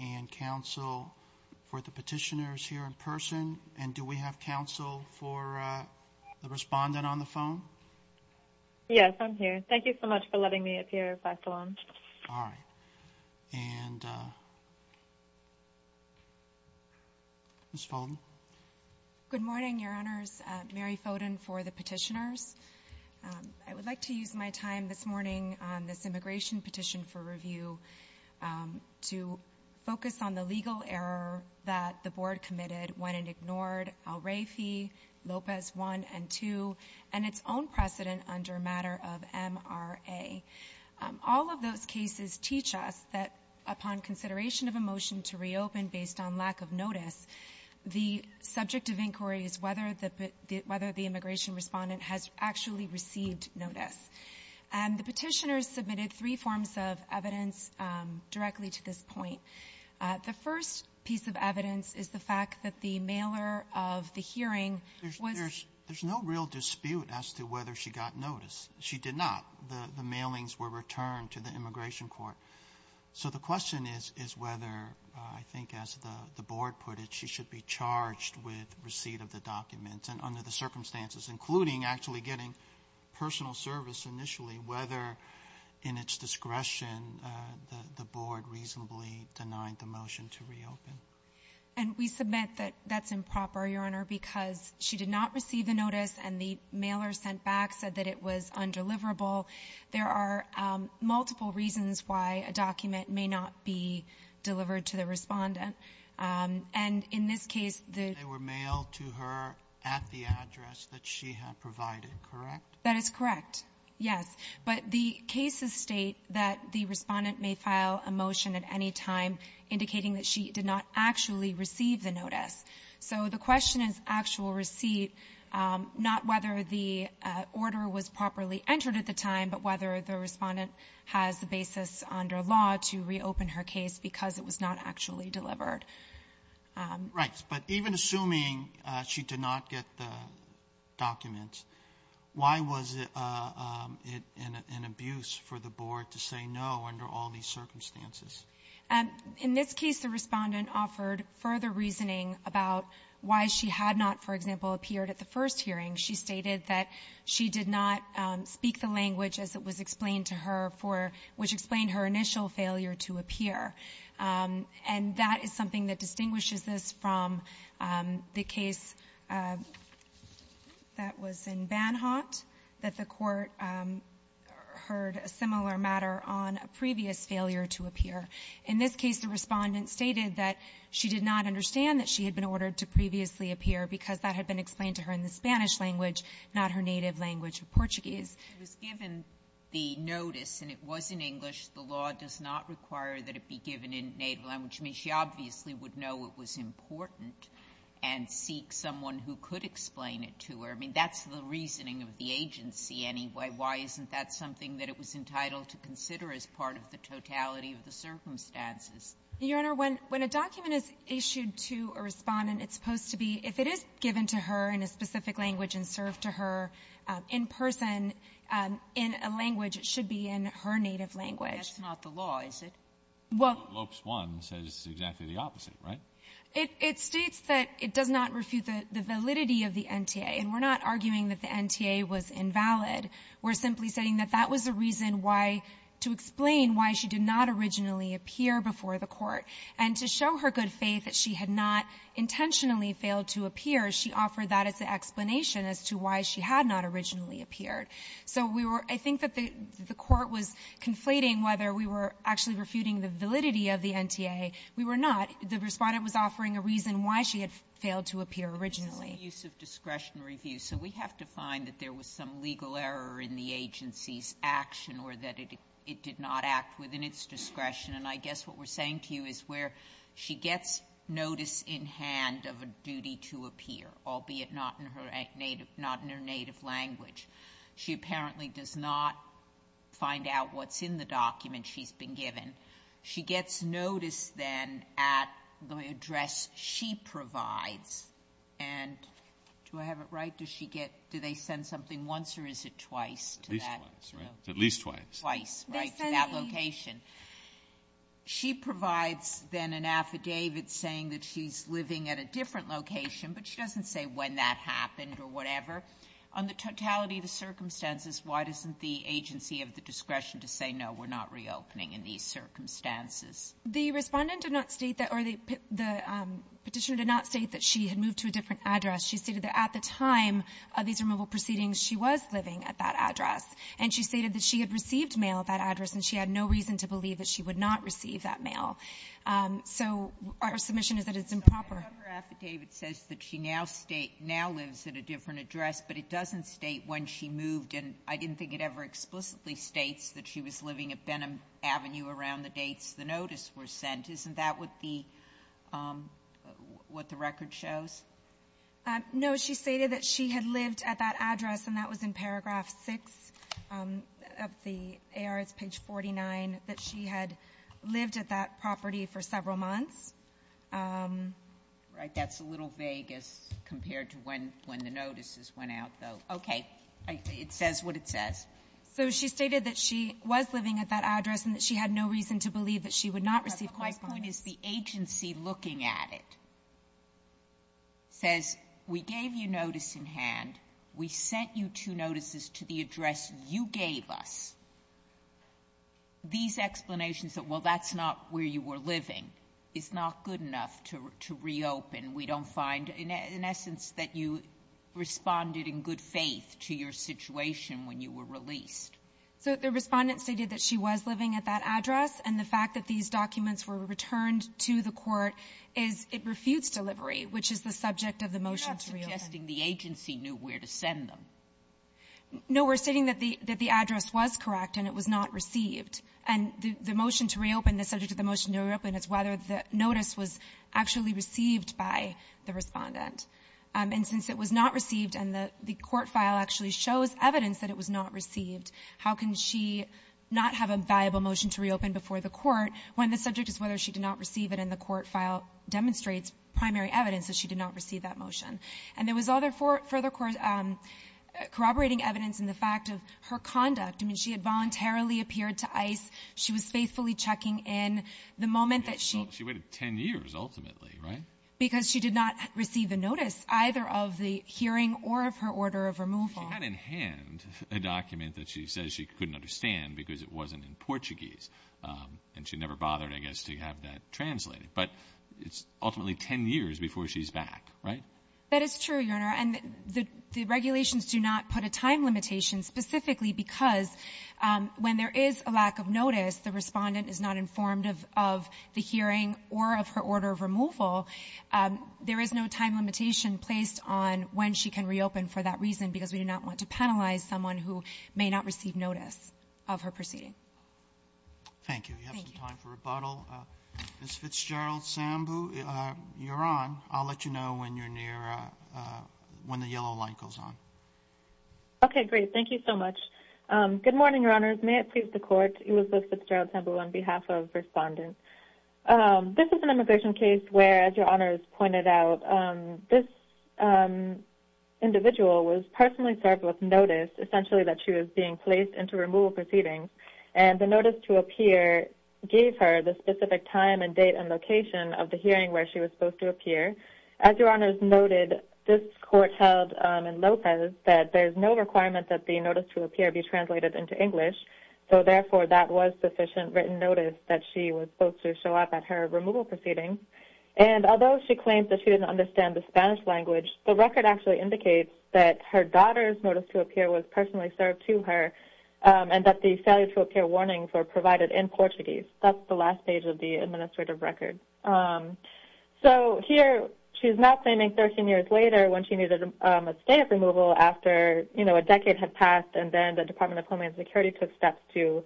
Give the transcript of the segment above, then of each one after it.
and counsel for the petitioners here in person, and do we have counsel for the respondent on the phone? Yes, I'm here. Thank you so much for letting me appear, Dr. Long. All right. And Ms. Foden? Good morning, Your Honors. Mary Foden for the petitioners. I would like to use my time this morning on this immigration petition for review to focus on the legal error that the Board committed when it ignored Al-Rafi, Lopez 1 and 2, and its own precedent under a matter of MRA. All of those cases teach us that upon consideration of a motion to reopen based on lack of notice, the subject of inquiry is whether the immigration respondent has actually received notice. And the petitioners submitted three forms of evidence directly to this point. The first piece of evidence is the fact that the mailer of the hearing was There's no real dispute as to whether she got notice. She did not. The mailings were returned to the Immigration Court. So the question is whether, I think as the Board put it, she should be charged with receipt of the documents and under the circumstances, including actually getting personal service initially, whether in its discretion the Board reasonably denied the motion to reopen. And we submit that that's improper, Your Honor, because she did not receive the notice and the mailer sent back said that it was undeliverable. There are multiple reasons why a document may not be delivered to the respondent. And in this case, they were mailed to her at the address that she had provided, correct? That is correct, yes. But the cases state that the respondent may file a motion at any time indicating that she did not actually receive the notice. So the question is actual receipt, not whether the order was properly entered at the time, but whether the respondent has the basis under law to reopen her case because it was not actually delivered. Right, but even assuming she did not get the documents, why was it an abuse for the Board to say no under all these circumstances? In this case, the respondent offered further reasoning about why she had not, for example, appeared at the first hearing. She stated that she did not speak the language as it was explained to her for which explained her initial failure to appear. And that is something that distinguishes this from the case that was in Banhot, that the Court heard a similar matter on a previous failure to appear. In this case, the respondent stated that she did not understand that she had been She was given the notice and it was in English. The law does not require that it be given in native language. I mean, she obviously would know it was important and seek someone who could explain it to her. I mean, that's the reasoning of the agency anyway. Why isn't that something that it was entitled to consider as part of the totality of the circumstances? Your Honor, when a document is issued to a respondent, it's supposed to be, if it is in a specific language and served to her in person, in a language, it should be in her native language. Sotomayor, that's not the law, is it? Well, it states that it does not refute the validity of the NTA. And we're not arguing that the NTA was invalid. We're simply saying that that was the reason why, to explain why she did not originally appear before the Court. And to show her good faith that she had not intentionally failed to appear, she offered that as an explanation as to why she had not originally appeared. So we were --" I think that the Court was conflating whether we were actually refuting the validity of the NTA. We were not. The respondent was offering a reason why she had failed to appear originally. Sotomayor, this is a use of discretionary view. So we have to find that there was some legal error in the agency's action, or that it did not act within its discretion. And I guess what we're saying to you is where she gets notice in hand of a duty to appear, albeit not in her native language. She apparently does not find out what's in the document she's been given. She gets notice, then, at the address she provides. And do I have it right? Do they send something once or is it twice to that address? At least twice. Twice, right, to that location. She provides, then, an affidavit saying that she's living at a different location, but she doesn't say when that happened or whatever. On the totality of the circumstances, why doesn't the agency have the discretion to say, no, we're not reopening in these circumstances? The Respondent did not state that or the Petitioner did not state that she had moved to a different address. She stated that at the time of these removal proceedings, she was living at that address. And she stated that she had received mail at that address, and she had no reason to believe that she would not receive that mail. So our submission is that it's improper. Sotomayor, her affidavit says that she now lives at a different address, but it doesn't state when she moved. And I didn't think it ever explicitly states that she was living at Benham Avenue around the dates the notice was sent. Isn't that what the record shows? No. She stated that she had lived at that address, and that was in paragraph 6 of the A.R. It's page 49, that she had lived at that property for several months. Right. That's a little vague as compared to when the notices went out, though. Okay. It says what it says. So she stated that she was living at that address and that she had no reason to believe that she would not receive postcards. But my point is the agency looking at it. It says we gave you notice in hand. We sent you two notices to the address you gave us. These explanations that, well, that's not where you were living, is not good enough to reopen. We don't find, in essence, that you responded in good faith to your situation when you were released. So the Respondent stated that she was living at that address, and the fact that these refutes delivery, which is the subject of the motion to reopen. You're not suggesting the agency knew where to send them. No. We're stating that the address was correct and it was not received. And the motion to reopen, the subject of the motion to reopen, is whether the notice was actually received by the Respondent. And since it was not received and the court file actually shows evidence that it was not received, how can she not have a viable motion to reopen before the court when the subject is whether she did not receive it and the court file demonstrates primary evidence that she did not receive that motion? And there was other further corroborating evidence in the fact of her conduct. I mean, she had voluntarily appeared to ICE. She was faithfully checking in. The moment that she — She waited 10 years, ultimately, right? Because she did not receive a notice, either of the hearing or of her order of removal. She had in hand a document that she says she couldn't understand because it wasn't in Portuguese. And she never bothered, I guess, to have that translated. But it's ultimately 10 years before she's back, right? That is true, Your Honor, and the regulations do not put a time limitation specifically because when there is a lack of notice, the Respondent is not informed of the hearing or of her order of removal. There is no time limitation placed on when she can reopen for that reason because we do not want to penalize someone who may not receive notice of her proceeding. Thank you. We have some time for rebuttal. Ms. Fitzgerald-Sambu, you're on. I'll let you know when you're near — when the yellow line goes on. Okay, great. Thank you so much. Good morning, Your Honors. May it please the Court. Elizabeth Fitzgerald-Sambu on behalf of Respondent. This is an immigration case where, as Your Honors pointed out, this individual was personally served with notice, essentially, that she was being placed into removal proceedings. And the notice to appear gave her the specific time and date and location of the hearing where she was supposed to appear. As Your Honors noted, this Court held in Lopez that there's no requirement that the notice to appear be translated into English, so therefore that was sufficient written notice that she was supposed to show up at her removal proceedings. And although she claims that she didn't understand the Spanish language, the record actually indicates that her daughter's notice to appear was personally served to her and that the failure to appear warnings were provided in Portuguese. That's the last page of the administrative record. So, here, she's now claiming 13 years later when she needed a stay of removal after, you know, a decade had passed and then the Department of Homeland Security took steps to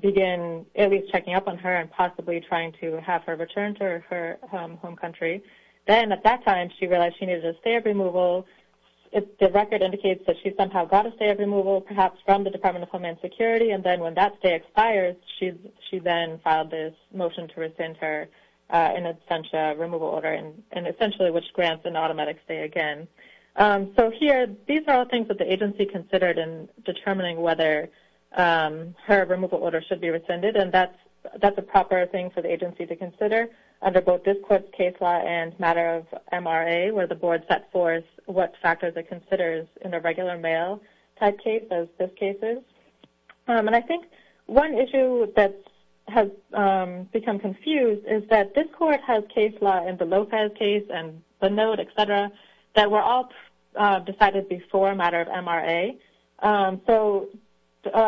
begin at least checking up on her and possibly trying to have her returned to her home country. Then, at that time, she realized she needed a stay of removal. The record indicates that she somehow got a stay of removal, perhaps from the Department of Homeland Security, and then when that stay expires, she then filed this motion to rescind her in absentia removal order, and essentially, which grants an automatic stay again. So, here, these are all things that the agency considered in determining whether her removal order should be rescinded, and that's a proper thing for the agency to consider under both this Court's case law and matter of MRA, where the Board set forth what factors it considers in a regular mail-type case as this case is. And I think one issue that has become confused is that this Court has case law in the Lopez case and the note, et cetera, that were all decided before matter of MRA. So,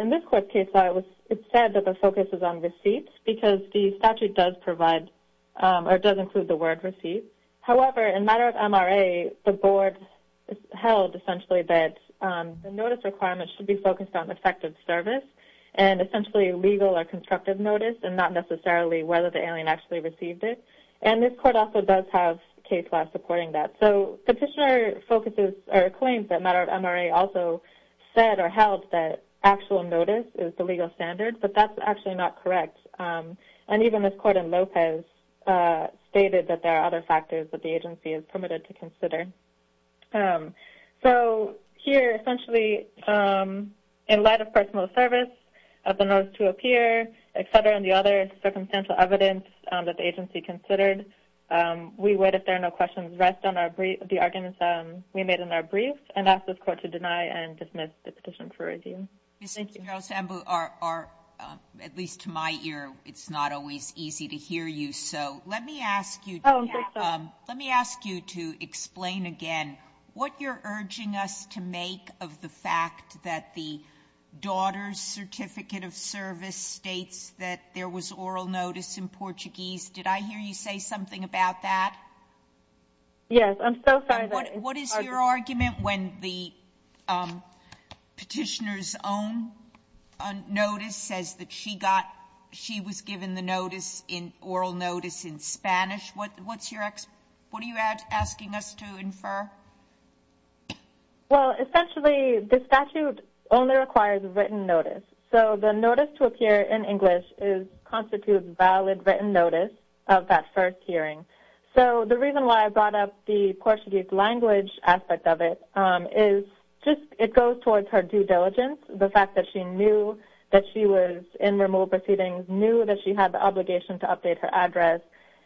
in this Court's case law, it said that the focus is on receipts because the statute does provide or does include the word receipt. However, in matter of MRA, the Board held essentially that the notice requirement should be focused on effective service and essentially legal or constructive notice and not necessarily whether the alien actually received it. And this Court also does have case law supporting that. So, Petitioner focuses or claims that matter of MRA also said or held that actual notice is the legal standard, but that's actually not correct. And even this Court in Lopez stated that there are other factors that the agency is permitted to consider. So, here, essentially, in light of personal service of the notice to appear, et cetera, and the other circumstantial evidence that the agency considered, we would, if there are no questions, rest on the arguments we made in our brief and ask this Court to deny Thank you. General Sambu, at least to my ear, it's not always easy to hear you. So, let me ask you to explain again what you're urging us to make of the fact that the daughter's certificate of service states that there was oral notice in Portuguese. Did I hear you say something about that? Yes. I'm so sorry. What is your argument when the Petitioner's own notice says that she was given the oral notice in Spanish? What are you asking us to infer? Well, essentially, the statute only requires written notice. So, the notice to appear in English constitutes valid written notice of that first hearing. So, the reason why I brought up the Portuguese language aspect of it is just it goes towards her due diligence, the fact that she knew that she was in removal proceedings, knew that she had the obligation to update her address,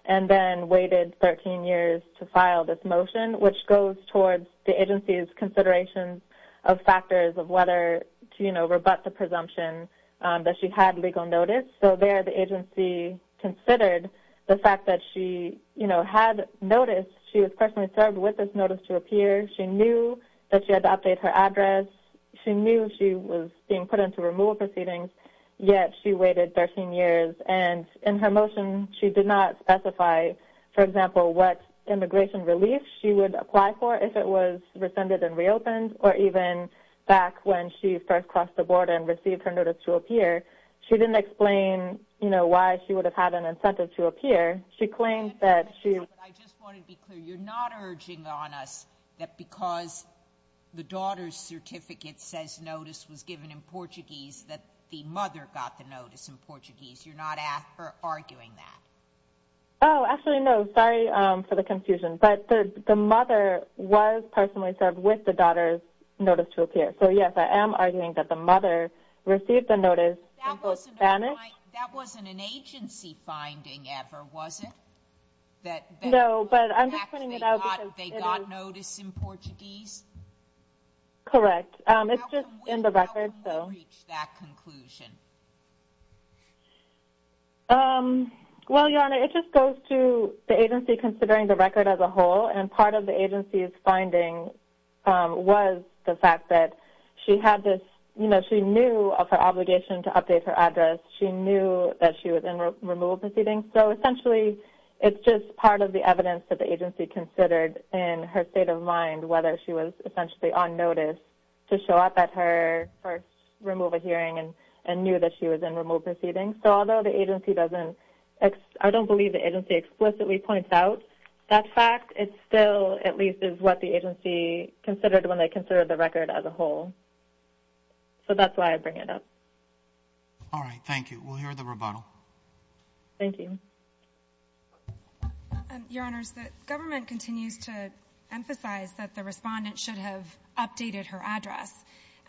and then waited 13 years to file this motion, which goes towards the agency's consideration of factors of whether to, you know, rebut the presumption that she had legal notice. So, there the agency considered the fact that she, you know, had notice. She was personally served with this notice to appear. She knew that she had to update her address. She knew she was being put into removal proceedings, yet she waited 13 years. And in her motion, she did not specify, for example, what immigration relief she would apply for if it was rescinded and reopened, or even back when she first crossed the border and received her notice to appear. She didn't explain, you know, why she would have had an incentive to appear. She claimed that she... I just wanted to be clear. You're not urging on us that because the daughter's certificate says notice was given in Portuguese that the mother got the notice in Portuguese. You're not arguing that? Oh, actually, no. Sorry for the confusion. But the mother was personally served with the daughter's notice to appear. So, yes, I am arguing that the mother received the notice in Spanish. That wasn't an agency finding ever, was it? No, but I'm just pointing it out because it is... They got notice in Portuguese? Correct. It's just in the record, so... How come you reached that conclusion? Well, Your Honor, it just goes to the agency considering the record as a whole. And part of the agency's finding was the fact that she had this... You know, she knew of her obligation to update her address. She knew that she was in removal proceedings. So, essentially, it's just part of the evidence that the agency considered in her state of mind whether she was essentially on notice to show up at her first removal hearing and knew that she was in removal proceedings. So, although the agency doesn't... I don't believe the agency explicitly points out that fact. It still, at least, is what the agency considered when they considered the record as a whole. So, that's why I bring it up. All right, thank you. We'll hear the rebuttal. Thank you. Your Honors, the government continues to emphasize that the respondent should have updated her address.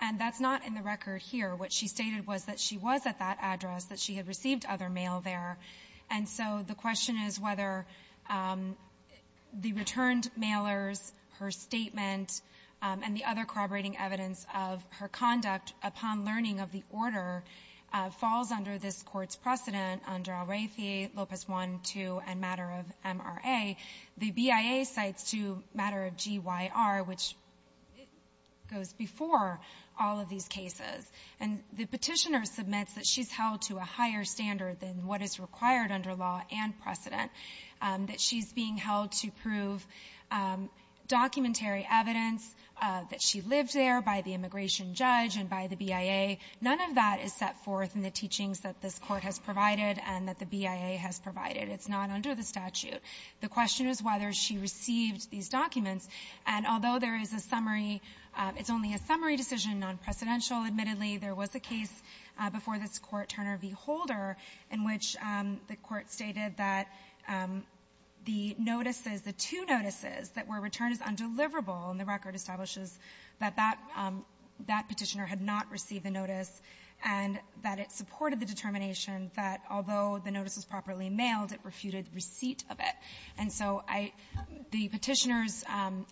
And that's not in the record here. What she stated was that she was at that address, that she had received other mail there. And so, the question is whether the returned mailers, her statement, and the other corroborating evidence of her conduct upon learning of the order falls under this Court's precedent under Alrathie, Lopez 1, 2, and matter of MRA. The BIA cites to matter of GYR, which goes before all of these cases. And the petitioner submits that she's held to a higher standard than what is required under law and precedent, that she's being held to prove documentary evidence, that she lived there by the immigration judge and by the BIA. None of that is set forth in the teachings that this Court has provided and that the BIA has provided. It's not under the statute. The question is whether she received these documents. And although there is a summary, it's only a summary decision, non-precedential, admittedly. There was a case before this Court, Turner v. Holder, in which the Court stated that the notices, the two notices that were returned as undeliverable, and the record establishes that that petitioner had not received the notice, and that it supported the determination that, although the notice was properly mailed, it refuted receipt of it. And so I — the petitioners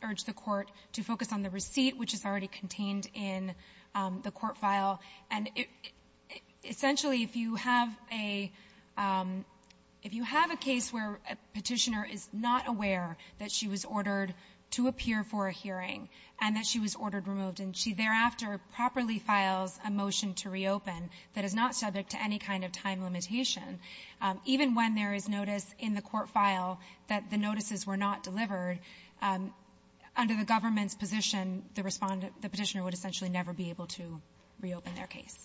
urged the Court to focus on the receipt, which is already contained in the court file. And essentially, if you have a — if you have a case where a petitioner is not aware that she was ordered to appear for a hearing and that she was ordered removed, and she thereafter properly files a motion to reopen that is not subject to any kind of time limitation, even when there is notice in the court file that the notices were not delivered, under the government's position, the respondent — the petitioner would essentially never be able to reopen their case.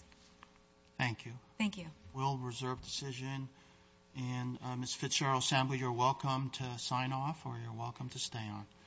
Thank you. Thank you. We'll reserve decision. And, Ms. Fitzgerald-Samuel, you're welcome to sign off, or you're welcome to stay on.